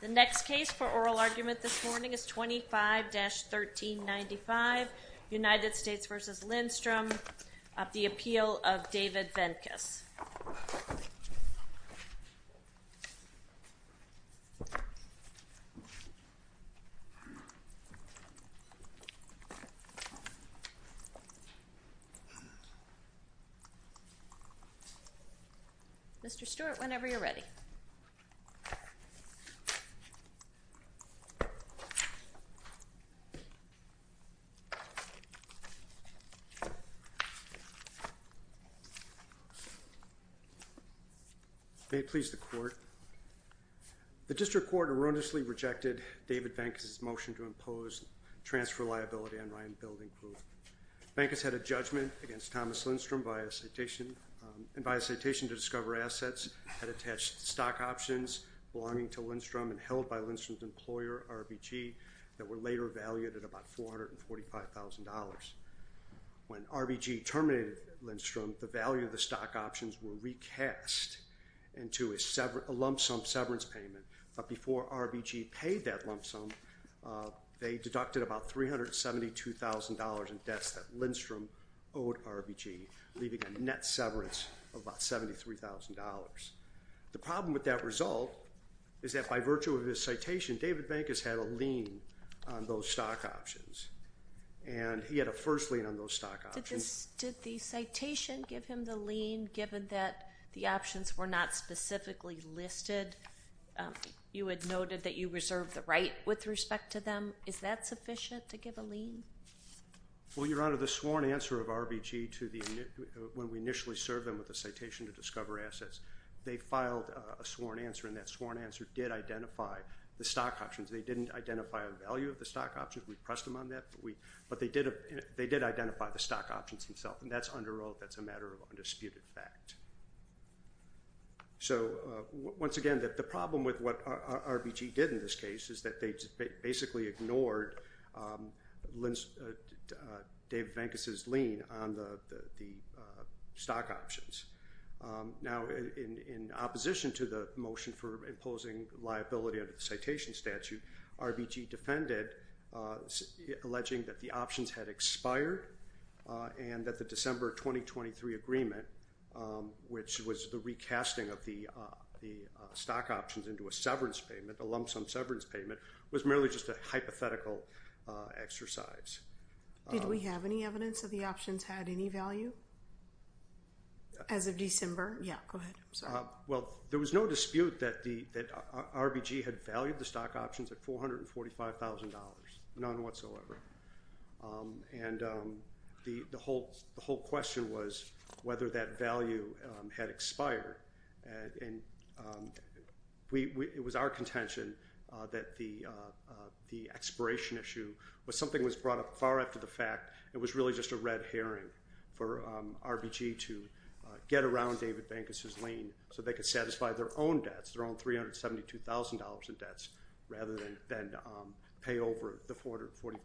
The next case for oral argument this morning is 25-1395, United States v. Lindstrom, of the appeal of David Ventus. Mr. Stewart, whenever you're ready. May it please the court. The district court erroneously rejected David Ventus' motion to impose transfer liability on Ryan Building Proof. Ventus had a judgment against Thomas Lindstrom, and by a citation to discover assets, had attached stock options belonging to Lindstrom and held by Lindstrom's employer, RBG, that were later valued at about $445,000. When RBG terminated Lindstrom, the value of the stock options were recast into a lump sum severance payment, but before RBG paid that lump sum, they deducted about $372,000 in debts that Lindstrom owed RBG, leaving a net severance of about $73,000. The problem with that result is that by virtue of his citation, David Ventus had a lien on those stock options, and he had a first lien on those stock options. Did the citation give him the lien given that the options were not specifically listed? You had noted that you reserved the right with respect to them. Is that sufficient to give a lien? Well, Your Honor, the sworn answer of RBG when we initially served them with the citation to discover assets, they filed a sworn answer, and that sworn answer did identify the stock options. They didn't identify the value of the stock options. We pressed them on that, but they did identify the stock options themselves, and that's under oath. That's a matter of undisputed fact. So once again, the problem with what RBG did in this case is that they basically ignored David Ventus's lien on the stock options. Now, in opposition to the motion for imposing liability under the citation statute, RBG defended alleging that the options had expired and that the December 2023 agreement, which was the recasting of the stock options into a severance payment, a lump sum severance payment, was merely just a hypothetical exercise. Did we have any evidence that the options had any value as of December? Yeah, go ahead. Well, there was no dispute that RBG had valued the stock options at $445,000, none whatsoever. And the whole question was whether that value had expired. And it was our contention that the expiration issue was something that was brought up far after the fact. It was really just a red herring for RBG to get around David Ventus's lien so they could satisfy their own debts, their own $372,000 in debts, rather than pay over the $445,000.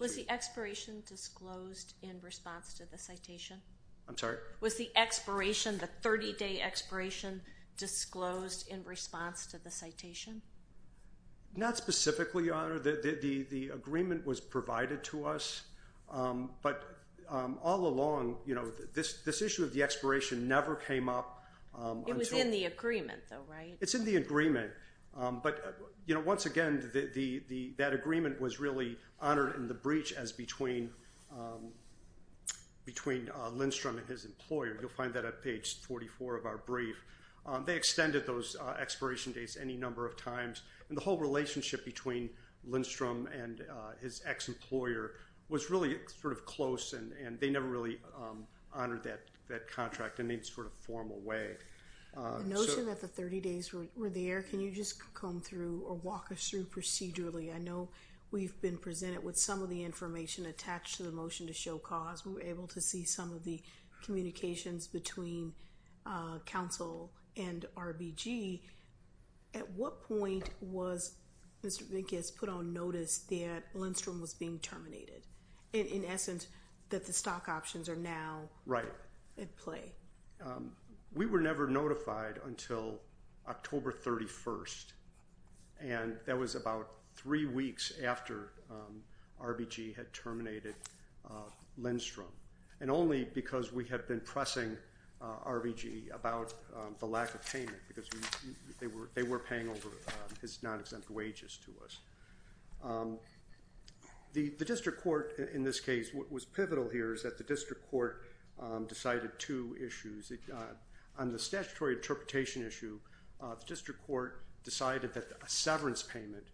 Was the expiration disclosed in response to the citation? I'm sorry? Was the expiration, the 30-day expiration, disclosed in response to the citation? Not specifically, Your Honor. The agreement was provided to us. But all along, you know, this issue of the expiration never came up. It was in the agreement, though, right? It's in the agreement. But, you know, once again, that agreement was really honored in the breach as between Lindstrom and his employer. You'll find that at page 44 of our brief. They extended those expiration dates any number of times. And the whole relationship between Lindstrom and his ex-employer was really sort of close, and they never really honored that contract in any sort of formal way. The notion that the 30 days were there, can you just comb through or walk us through procedurally? I know we've been presented with some of the information attached to the motion to show cause. We were able to see some of the communications between counsel and RBG. At what point was Mr. Venkus put on notice that Lindstrom was being terminated? In essence, that the stock options are now at play. We were never notified until October 31st, and that was about three weeks after RBG had terminated Lindstrom, and only because we had been pressing RBG about the lack of payment because they were paying over his non-exempt wages to us. The district court, in this case, what was pivotal here is that the district court decided two issues. On the statutory interpretation issue, the district court decided that a severance payment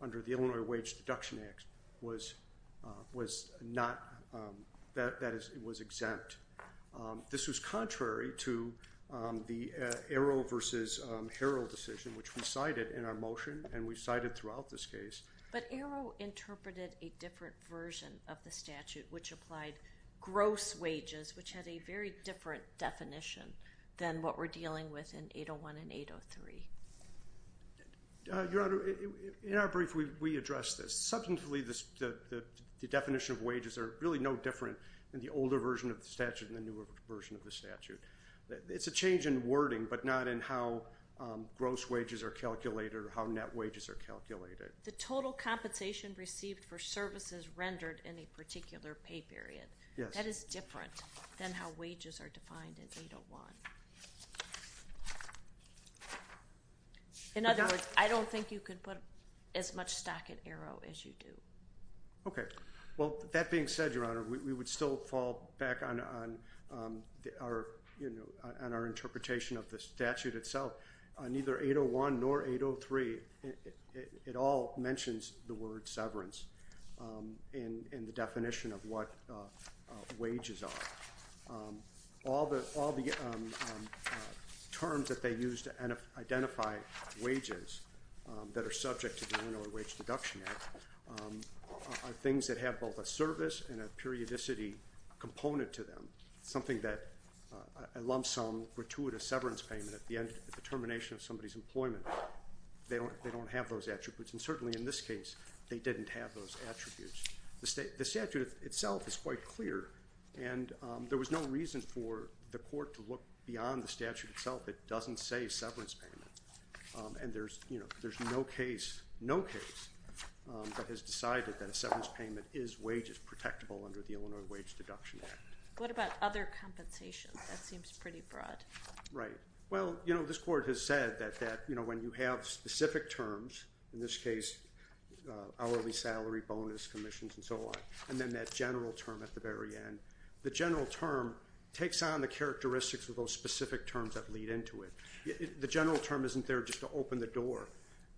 under the Illinois Wage Deduction Act was exempt. This was contrary to the Arrow v. Harrell decision, which we cited in our motion, and we cited throughout this case. But Arrow interpreted a different version of the statute, which applied gross wages, which had a very different definition than what we're dealing with in 801 and 803. Your Honor, in our brief, we addressed this. Substantively, the definition of wages are really no different in the older version of the statute than the newer version of the statute. It's a change in wording, but not in how gross wages are calculated or how net wages are calculated. The total compensation received for services rendered in a particular pay period, that is different than how wages are defined in 801. In other words, I don't think you could put as much stock in Arrow as you do. Okay. Well, that being said, Your Honor, we would still fall back on our interpretation of the statute itself. Neither 801 nor 803, it all mentions the word severance in the definition of what wages are. All the terms that they use to identify wages that are subject to the Winnower Wage Deduction Act are things that have both a service and a periodicity component to them, something that a lump sum, gratuitous severance payment at the end of the termination of somebody's employment, they don't have those attributes. And certainly in this case, they didn't have those attributes. The statute itself is quite clear, and there was no reason for the court to look beyond the statute itself. It doesn't say severance payment. And there's no case that has decided that a severance payment is wages protectable under the Illinois Wage Deduction Act. What about other compensations? That seems pretty broad. Right. Well, this court has said that when you have specific terms, in this case hourly salary bonus commissions and so on, and then that general term at the very end, the general term takes on the characteristics of those specific terms that lead into it. The general term isn't there just to open the door.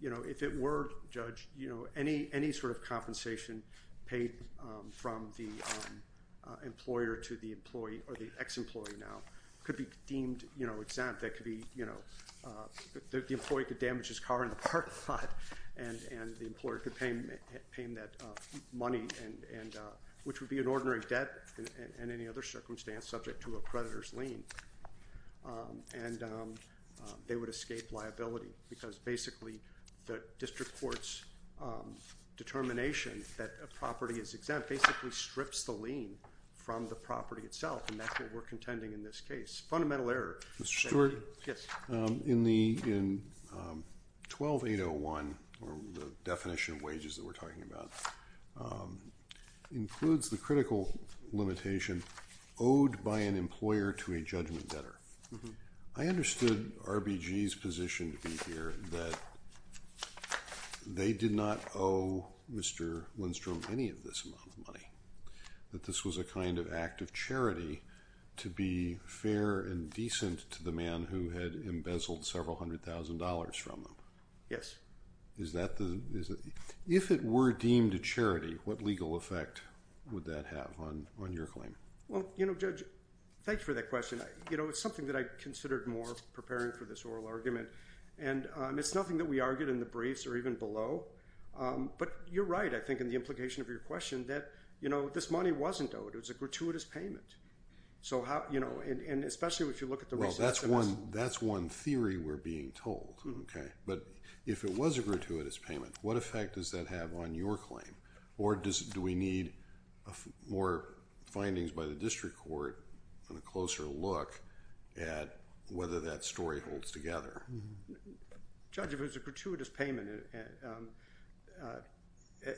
If it were, Judge, any sort of compensation paid from the employer to the employee or the ex-employee now could be deemed exempt. The employee could damage his car in the parking lot, and the employer could pay him that money, which would be an ordinary debt in any other circumstance subject to a creditor's lien. And they would escape liability because basically the district court's determination that a property is exempt basically strips the lien from the property itself, and that's what we're contending in this case. Fundamental error. Mr. Stewart? In 12-801, or the definition of wages that we're talking about, includes the critical limitation owed by an employer to a judgment debtor. I understood RBG's position to be here that they did not owe Mr. Lindstrom any of this amount of money, that this was a kind of act of charity to be fair and decent to the man who had embezzled several hundred thousand dollars from them. If it were deemed a charity, what legal effect would that have on your claim? Well, you know, Judge, thanks for that question. You know, it's something that I considered more preparing for this oral argument, and it's nothing that we argued in the briefs or even below, but you're right, I think, in the implication of your question that, you know, this money wasn't owed. It was a gratuitous payment. So how, you know, and especially if you look at the receipts. Well, that's one theory we're being told, okay? But if it was a gratuitous payment, what effect does that have on your claim? Or do we need more findings by the district court and a closer look at whether that story holds together? Judge, if it was a gratuitous payment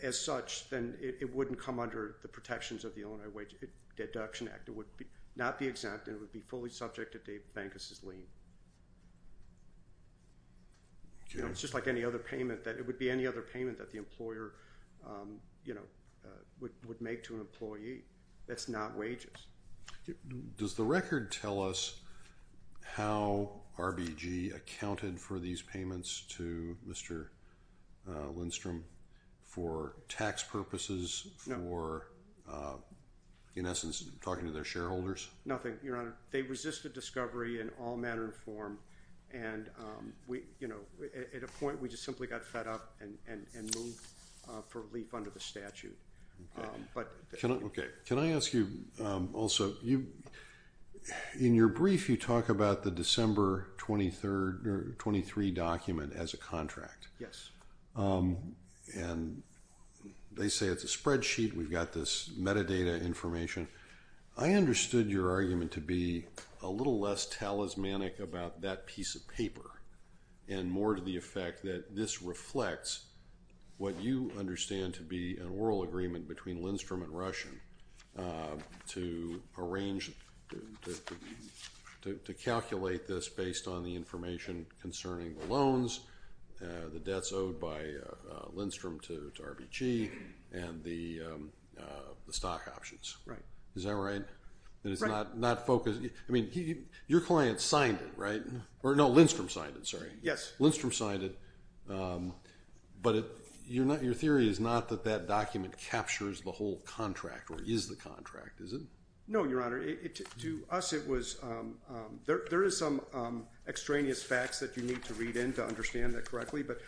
as such, then it wouldn't come under the protections of the Illinois Wage Deduction Act. It would not be exempt, and it would be fully subject to Dave Vankus's lien. Okay. You know, it's just like any other payment that, it would be any other payment that the employer, you know, would make to an employee. That's not wages. Does the record tell us how RBG accounted for these payments to Mr. Lindstrom for tax purposes, for, in essence, talking to their shareholders? Nothing, Your Honor. They resisted discovery in all manner and form, and, you know, at a point we just simply got fed up and moved for relief under the statute. Okay. Can I ask you also, in your brief you talk about the December 23 document as a contract. And they say it's a spreadsheet. We've got this metadata information. I understood your argument to be a little less talismanic about that piece of paper and more to the effect that this reflects what you understand to be an oral agreement between Lindstrom and Russian to arrange, to calculate this based on the information concerning the loans, the debts owed by Lindstrom to RBG, and the stock options. Right. Is that right? Right. I mean, your client signed it, right? Or, no, Lindstrom signed it. Yes. Lindstrom signed it. But your theory is not that that document captures the whole contract or is the contract, is it? No, Your Honor. To us, there is some extraneous facts that you need to read in to understand that correctly. But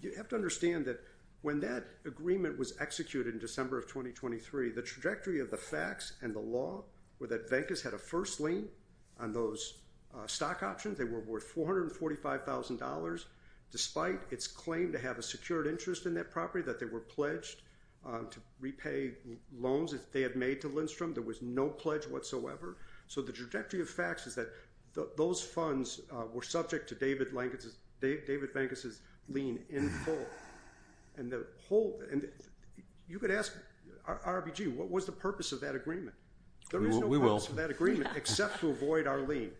you have to understand that when that agreement was executed in December of 2023, the trajectory of the facts and the law were that Venkis had a first lien on those stock options. They were worth $445,000 despite its claim to have a secured interest in that property, that they were pledged to repay loans that they had made to Lindstrom. There was no pledge whatsoever. So the trajectory of facts is that those funds were subject to David Venkis' lien in full. And you could ask RBG, what was the purpose of that agreement? We will. There is no purpose of that agreement except to avoid our lien.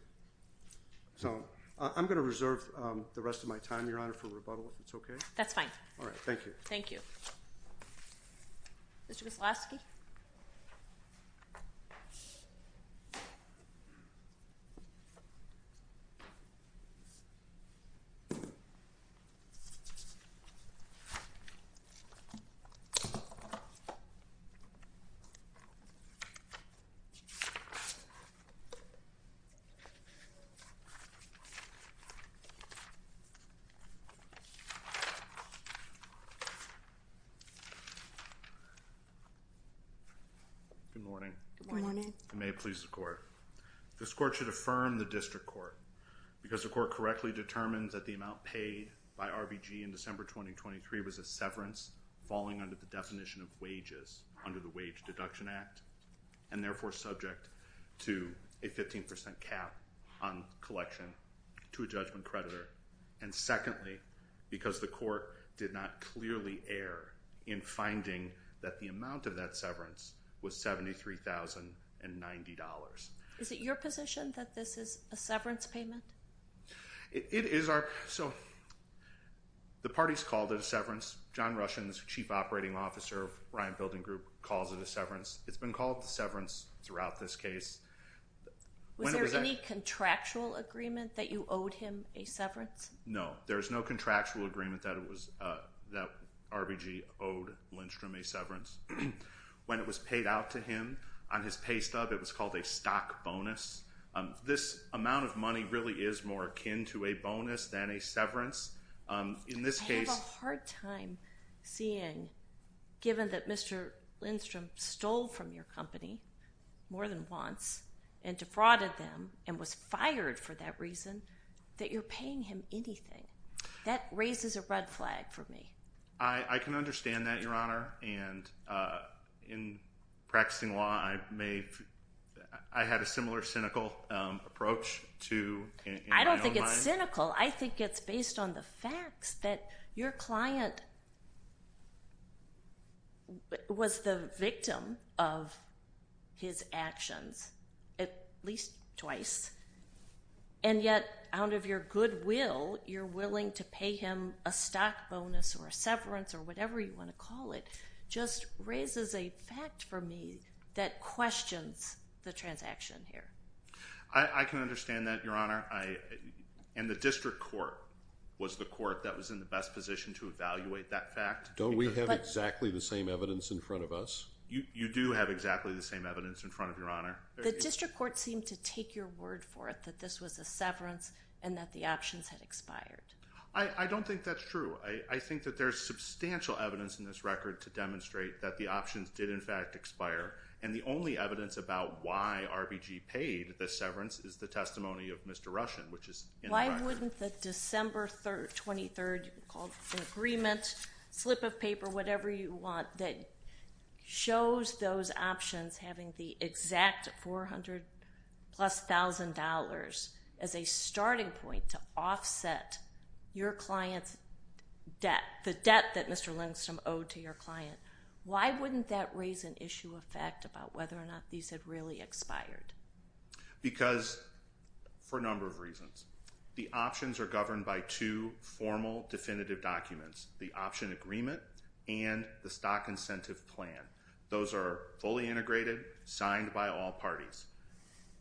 So I'm going to reserve the rest of my time, Your Honor, for rebuttal, if it's okay. That's fine. All right. Thank you. Thank you. Mr. Wyslowski? Mr. Wyslowski? Good morning. Good morning. May it please the Court. This Court should affirm the District Court because the Court correctly determined that the amount paid by RBG in December 2023 was a severance falling under the definition of wages under the Wage Deduction Act and therefore subject to a 15% cap on collection to a judgment creditor. And secondly, because the Court did not clearly err in finding that the amount of that severance was $73,090. Is it your position that this is a severance payment? It is. So the parties called it a severance. John Rushin, the Chief Operating Officer of Ryan Building Group, calls it a severance. It's been called a severance throughout this case. Was there any contractual agreement that you owed him a severance? No. There was no contractual agreement that RBG owed Lindstrom a severance. When it was paid out to him on his pay stub, it was called a stock bonus. This amount of money really is more akin to a bonus than a severance. I have a hard time seeing, given that Mr. Lindstrom stole from your company more than once and defrauded them and was fired for that reason, that you're paying him anything. That raises a red flag for me. I can understand that, Your Honor. And in practicing law, I had a similar cynical approach in my own mind. I don't think it's cynical. I think it's based on the facts that your client was the victim of his actions at least twice, and yet out of your goodwill, you're willing to pay him a stock bonus or a severance or whatever you want to call it just raises a fact for me that questions the transaction here. I can understand that, Your Honor. And the district court was the court that was in the best position to evaluate that fact. Don't we have exactly the same evidence in front of us? You do have exactly the same evidence in front of you, Your Honor. The district court seemed to take your word for it that this was a severance and that the options had expired. I don't think that's true. I think that there's substantial evidence in this record to demonstrate that the options did in fact expire, and the only evidence about why RBG paid the severance is the testimony of Mr. Russian, which is in the record. Why wouldn't the December 23rd agreement, slip of paper, whatever you want, that shows those options having the exact $400,000 plus as a starting point to offset your client's debt, the debt that Mr. Lindstrom owed to your client, why wouldn't that raise an issue of fact about whether or not these had really expired? Because, for a number of reasons, the options are governed by two formal definitive documents, the option agreement and the stock incentive plan. Those are fully integrated, signed by all parties.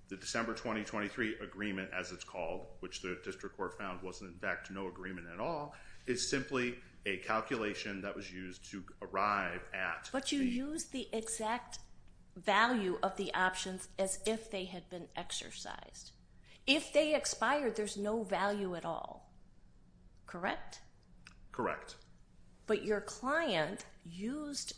The December 2023 agreement, as it's called, which the district court found was in fact no agreement at all, is simply a calculation that was used to arrive at the... But you used the exact value of the options as if they had been exercised. If they expired, there's no value at all, correct? Correct. But your client used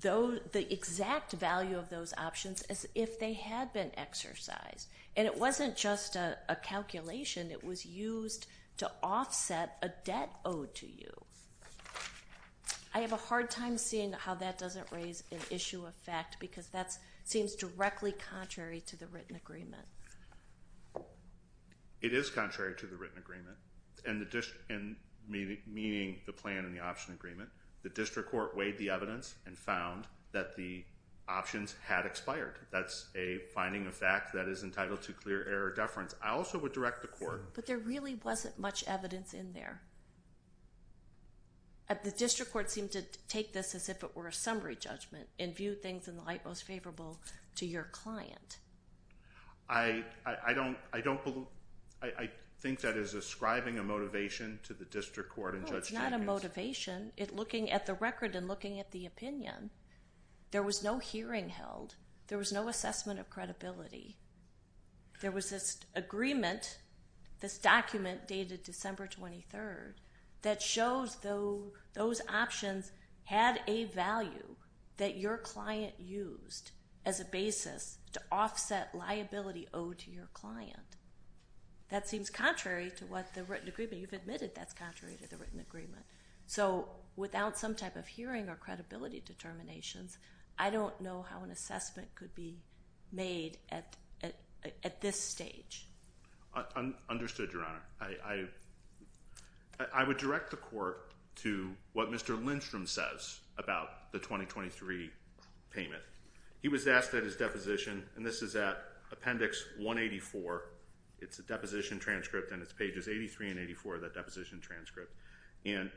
the exact value of those options as if they had been exercised, and it wasn't just a calculation. It was used to offset a debt owed to you. I have a hard time seeing how that doesn't raise an issue of fact because that seems directly contrary to the written agreement. It is contrary to the written agreement, meaning the plan and the option agreement. The district court weighed the evidence and found that the options had expired. That's a finding of fact that is entitled to clear error deference. I also would direct the court... But there really wasn't much evidence in there. The district court seemed to take this as if it were a summary judgment and view things in the light most favorable to your client. I think that is ascribing a motivation to the district court and Judge Jenkins. No, it's not a motivation. Looking at the record and looking at the opinion, there was no hearing held. There was no assessment of credibility. There was this agreement, this document dated December 23rd, that shows those options had a value that your client used as a basis to offset liability owed to your client. That seems contrary to what the written agreement. You've admitted that's contrary to the written agreement. Without some type of hearing or credibility determinations, I don't know how an assessment could be made at this stage. Understood, Your Honor. I would direct the court to what Mr. Lindstrom says about the 2023 payment. He was asked at his deposition, and this is at Appendix 184. It's a deposition transcript, and it's pages 83 and 84 of that deposition transcript. And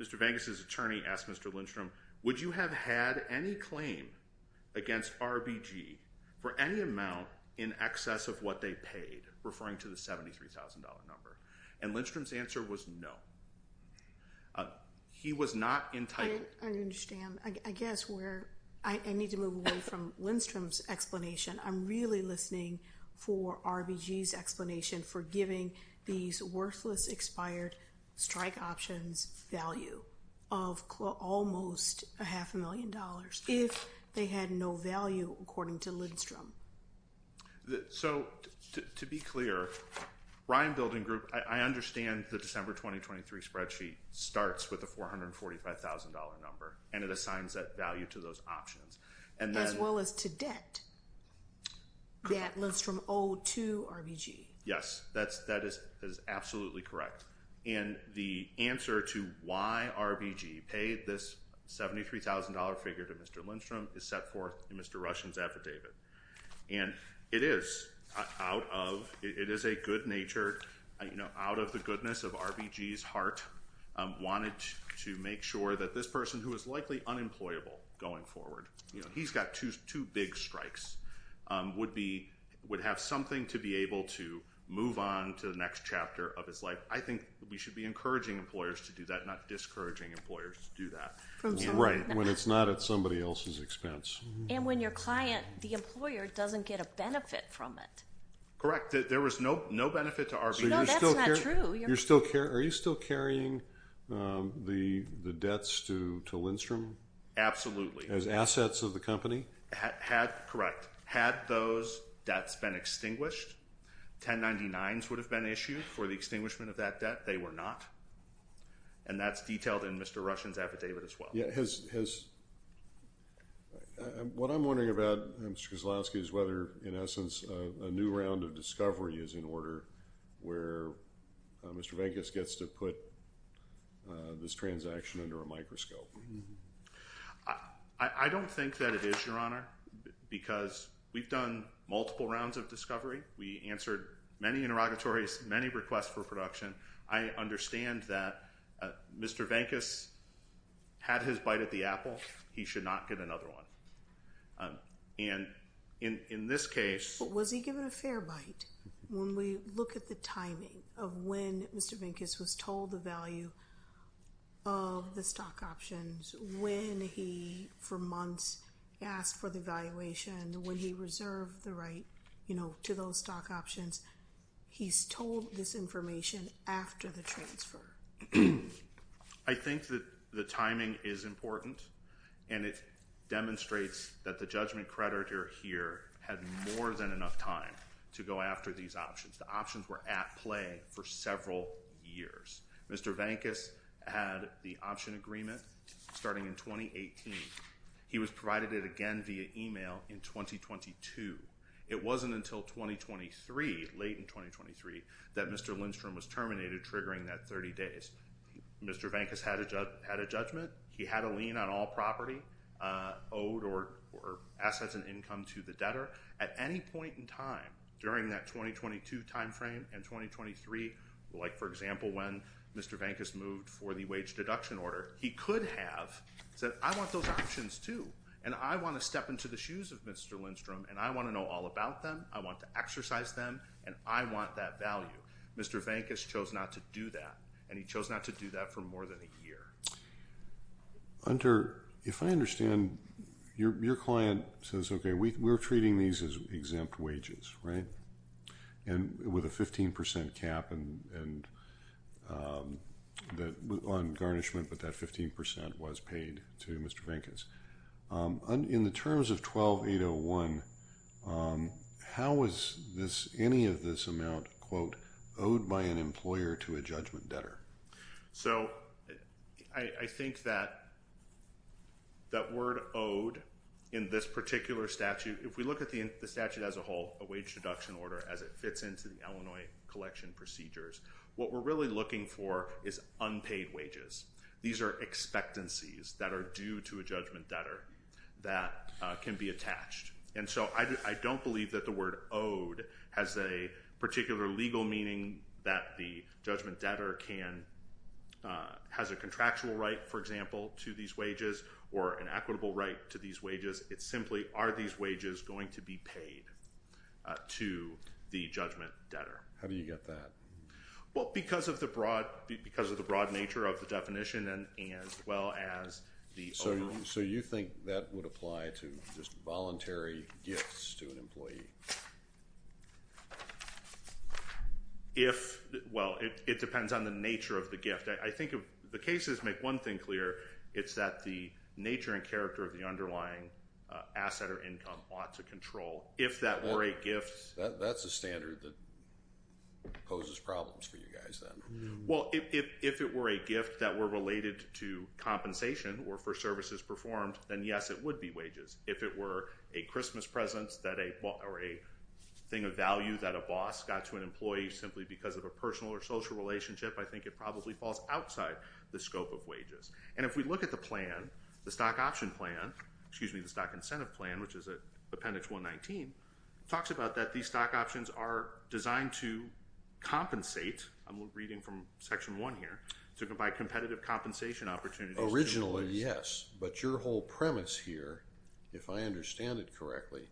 Mr. VanGus' attorney asked Mr. Lindstrom, would you have had any claim against RBG for any amount in excess of what they paid, referring to the $73,000 number? And Lindstrom's answer was no. He was not entitled. I understand. I guess where I need to move away from Lindstrom's explanation. I'm really listening for RBG's explanation for giving these worthless expired strike options value of almost a half a million dollars if they had no value according to Lindstrom. So to be clear, Ryan Building Group, I understand the December 2023 spreadsheet starts with a $445,000 number, and it assigns that value to those options. As well as to debt that Lindstrom owed to RBG. Yes, that is absolutely correct. And the answer to why RBG paid this $73,000 figure to Mr. Lindstrom is set forth in Mr. Rushen's affidavit. And it is a good nature, out of the goodness of RBG's heart, wanted to make sure that this person, who is likely unemployable going forward, he's got two big strikes, would have something to be able to move on to the next chapter of his life. I think we should be encouraging employers to do that, not discouraging employers to do that. Right, when it's not at somebody else's expense. And when your client, the employer, doesn't get a benefit from it. Correct. There was no benefit to RBG. No, that's not true. Are you still carrying the debts to Lindstrom? Absolutely. As assets of the company? Correct. Had those debts been extinguished, 1099s would have been issued for the extinguishment of that debt. They were not. And that's detailed in Mr. Rushen's affidavit as well. What I'm wondering about, Mr. Kozlowski, is whether, in essence, a new round of discovery is in order where Mr. Vankis gets to put this transaction under a microscope. I don't think that it is, Your Honor, because we've done multiple rounds of discovery. We answered many interrogatories, many requests for production. I understand that Mr. Vankis had his bite at the apple. He should not get another one. And in this case. But was he given a fair bite? When we look at the timing of when Mr. Vankis was told the value of the stock options, when he, for months, asked for the valuation, when he reserved the right to those stock options, he's told this information after the transfer. I think that the timing is important, and it demonstrates that the judgment creditor here had more than enough time to go after these options. The options were at play for several years. Mr. Vankis had the option agreement starting in 2018. He was provided it again via email in 2022. It wasn't until 2023, late in 2023, that Mr. Lindstrom was terminated, triggering that 30 days. Mr. Vankis had a judgment. He had a lien on all property owed or assets and income to the debtor. At any point in time during that 2022 time frame and 2023, like, for example, when Mr. Vankis moved for the wage deduction order, he could have said, I want those options too, and I want to step into the shoes of Mr. Lindstrom, and I want to know all about them, I want to exercise them, and I want that value. Mr. Vankis chose not to do that, and he chose not to do that for more than a year. Hunter, if I understand, your client says, okay, we're treating these as exempt wages, right, with a 15% cap on garnishment, but that 15% was paid to Mr. Vankis. In the terms of 12-801, how is any of this amount, quote, owed by an employer to a judgment debtor? So I think that that word owed in this particular statute, if we look at the statute as a whole, a wage deduction order, as it fits into the Illinois collection procedures, what we're really looking for is unpaid wages. These are expectancies that are due to a judgment debtor that can be attached. And so I don't believe that the word owed has a particular legal meaning that the judgment debtor has a contractual right, for example, to these wages or an equitable right to these wages. It's simply are these wages going to be paid to the judgment debtor. How do you get that? Well, because of the broad nature of the definition as well as the overall. So you think that would apply to just voluntary gifts to an employee? If, well, it depends on the nature of the gift. I think the cases make one thing clear. It's that the nature and character of the underlying asset or income ought to control. If that were a gift. That's a standard that poses problems for you guys then. Well, if it were a gift that were related to compensation or for services performed, then, yes, it would be wages. If it were a Christmas present or a thing of value that a boss got to an employee simply because of a personal or social relationship, I think it probably falls outside the scope of wages. And if we look at the plan, the stock option plan, excuse me, the stock incentive plan, which is Appendix 119, talks about that these stock options are designed to compensate. I'm reading from Section 1 here. To provide competitive compensation opportunities. Originally, yes. But your whole premise here, if I understand it correctly,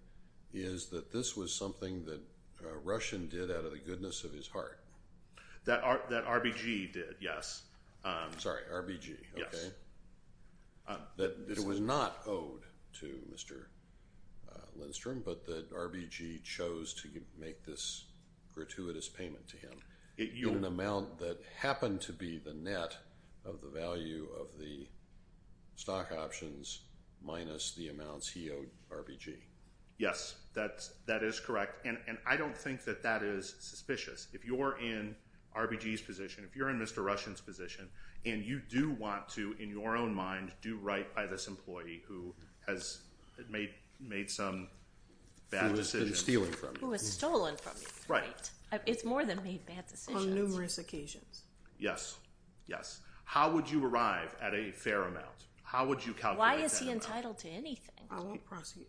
is that this was something that Russian did out of the goodness of his heart. That RBG did, yes. Sorry, RBG. That it was not owed to Mr. Lindstrom, but that RBG chose to make this gratuitous payment to him. In an amount that happened to be the net of the value of the stock options minus the amounts he owed RBG. Yes, that is correct. And I don't think that that is suspicious. If you're in RBG's position, if you're in Mr. Russian's position, and you do want to, in your own mind, do right by this employee who has made some bad decisions. Who was stolen from you. Who was stolen from you. Right. It's more than made bad decisions. On numerous occasions. Yes, yes. How would you arrive at a fair amount? How would you calculate that amount? Why is he entitled to anything? I won't prosecute.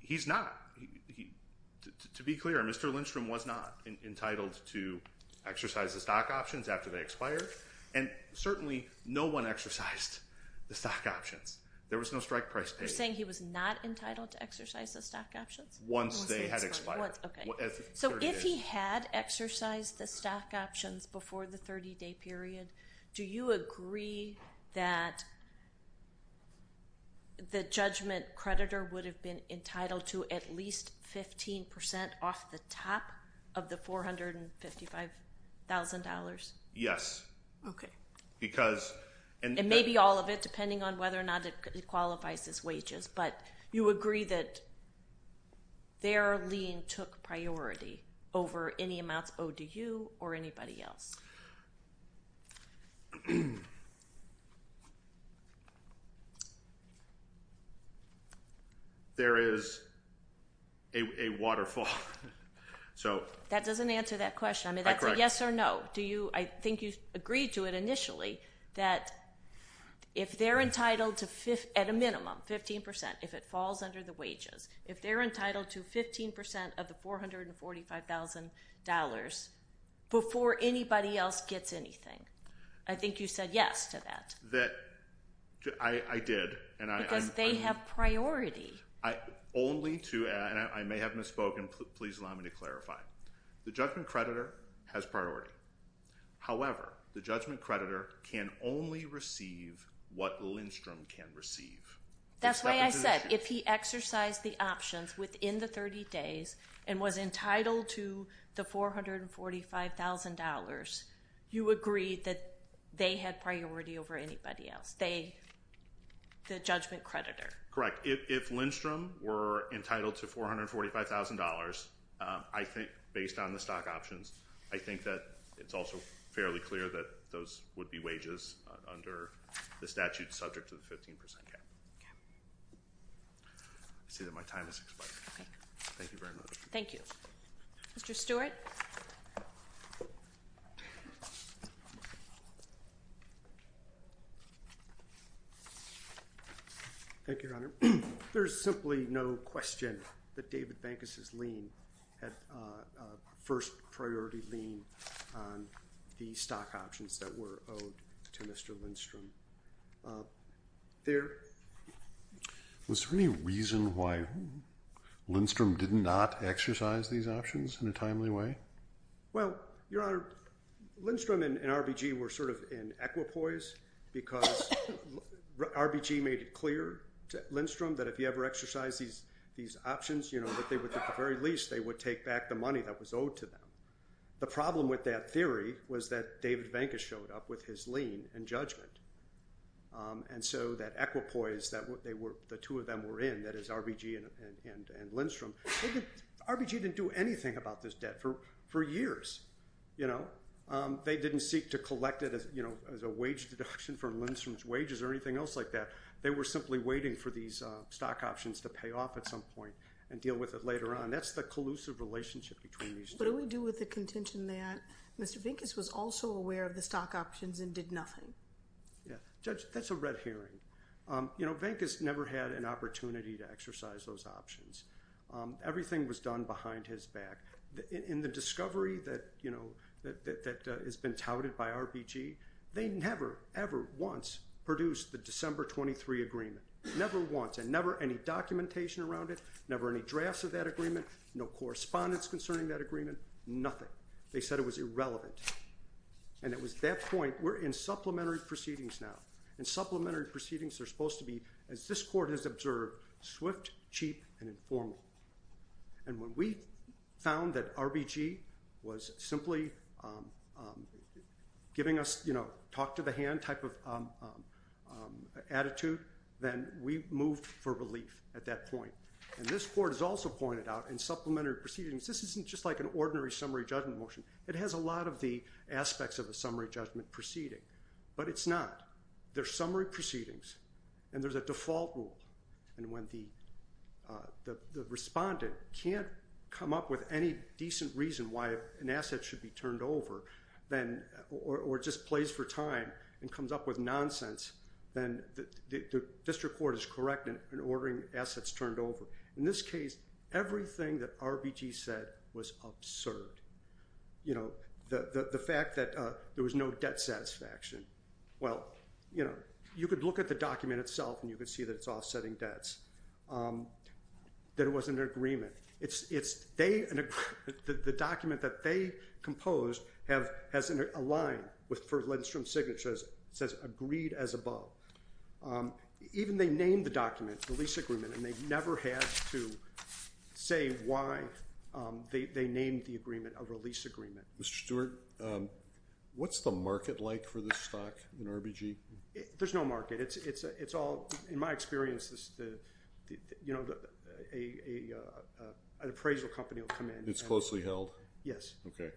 He's not. To be clear, Mr. Lindstrom was not entitled to exercise the stock options after they expired. And certainly no one exercised the stock options. There was no strike price paid. You're saying he was not entitled to exercise the stock options? Once they had expired. Once, okay. So if he had exercised the stock options before the 30-day period, do you agree that the judgment creditor would have been entitled to at least 15% off the top of the $455,000? Because. And maybe all of it, depending on whether or not it qualifies as wages. But you agree that their lien took priority over any amounts owed to you or anybody else? There is a waterfall. So. That doesn't answer that question. I mean, that's a yes or no. I think you agreed to it initially that if they're entitled to at a minimum 15%, if it falls under the wages, if they're entitled to 15% of the $445,000 before anybody else gets anything. I think you said yes to that. I did. Because they have priority. Only to, and I may have misspoken. Please allow me to clarify. The judgment creditor has priority. However, the judgment creditor can only receive what Lindstrom can receive. That's why I said if he exercised the options within the 30 days and was entitled to the $445,000, you agree that they had priority over anybody else? They, the judgment creditor. Correct. If Lindstrom were entitled to $445,000, I think based on the stock options, I think that it's also fairly clear that those would be wages under the statute subject to the 15% cap. Okay. I see that my time has expired. Okay. Thank you very much. Thank you. Mr. Stewart? Thank you, Your Honor. There's simply no question that David Bankus's lien had first priority lien on the stock options that were owed to Mr. Lindstrom. There. Was there any reason why Lindstrom did not exercise these options in a timely way? Well, Your Honor, Lindstrom and RBG were sort of in equipoise because RBG made it clear to Lindstrom that if he ever exercised these options, you know, that they would, at the very least, they would take back the money that was owed to them. The problem with that theory was that David Bankus showed up with his lien and judgment. And so that equipoise that they were, the two of them were in, that is RBG and Lindstrom, they didn't, RBG didn't do anything about this debt for years, you know? They didn't seek to collect it as, you know, as a wage deduction for Lindstrom's wages or anything else like that. They were simply waiting for these stock options to pay off at some point and deal with it later on. That's the collusive relationship between these two. Judge, what do we do with the contention that Mr. Bankus was also aware of the stock options and did nothing? Yeah, Judge, that's a red herring. You know, Bankus never had an opportunity to exercise those options. Everything was done behind his back. In the discovery that, you know, that has been touted by RBG, they never, ever once produced the December 23 agreement. Never once, and never any documentation around it, never any drafts of that agreement, no correspondence concerning that agreement, nothing. They said it was irrelevant. And it was at that point, we're in supplementary proceedings now. And supplementary proceedings are supposed to be, as this court has observed, swift, cheap, and informal. And when we found that RBG was simply giving us, you know, talk to the hand type of attitude, then we moved for relief at that point. And this court has also pointed out in supplementary proceedings, this isn't just like an ordinary summary judgment motion. It has a lot of the aspects of a summary judgment proceeding. But it's not. They're summary proceedings. And there's a default rule. And when the respondent can't come up with any decent reason why an asset should be turned over, or just plays for time and comes up with nonsense, then the district court is correct in ordering assets turned over. In this case, everything that RBG said was absurd. You know, the fact that there was no debt satisfaction. Well, you know, you could look at the document itself, and you could see that it's offsetting debts. That it wasn't an agreement. The document that they composed has a line for Lednstrom Signature that says, agreed as above. Even they named the document, the lease agreement, and they never had to say why they named the agreement a lease agreement. Mr. Stewart, what's the market like for this stock in RBG? There's no market. It's all, in my experience, an appraisal company will come in. It's closely held? Yes. Okay.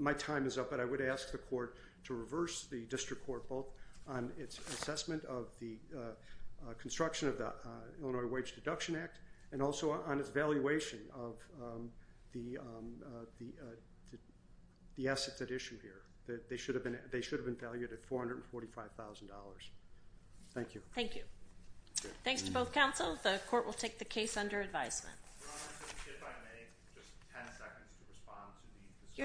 My time is up. But I would ask the court to reverse the district court both on its assessment of the construction of the Illinois Wage Deduction Act, and also on its valuation of the assets at issue here. They should have been valued at $445,000. Thank you. Thank you. Thanks to both counsels. The court will take the case under advisement. Your Honor, if I may, just 10 seconds to respond to the discussion. Your time is up. Thank you.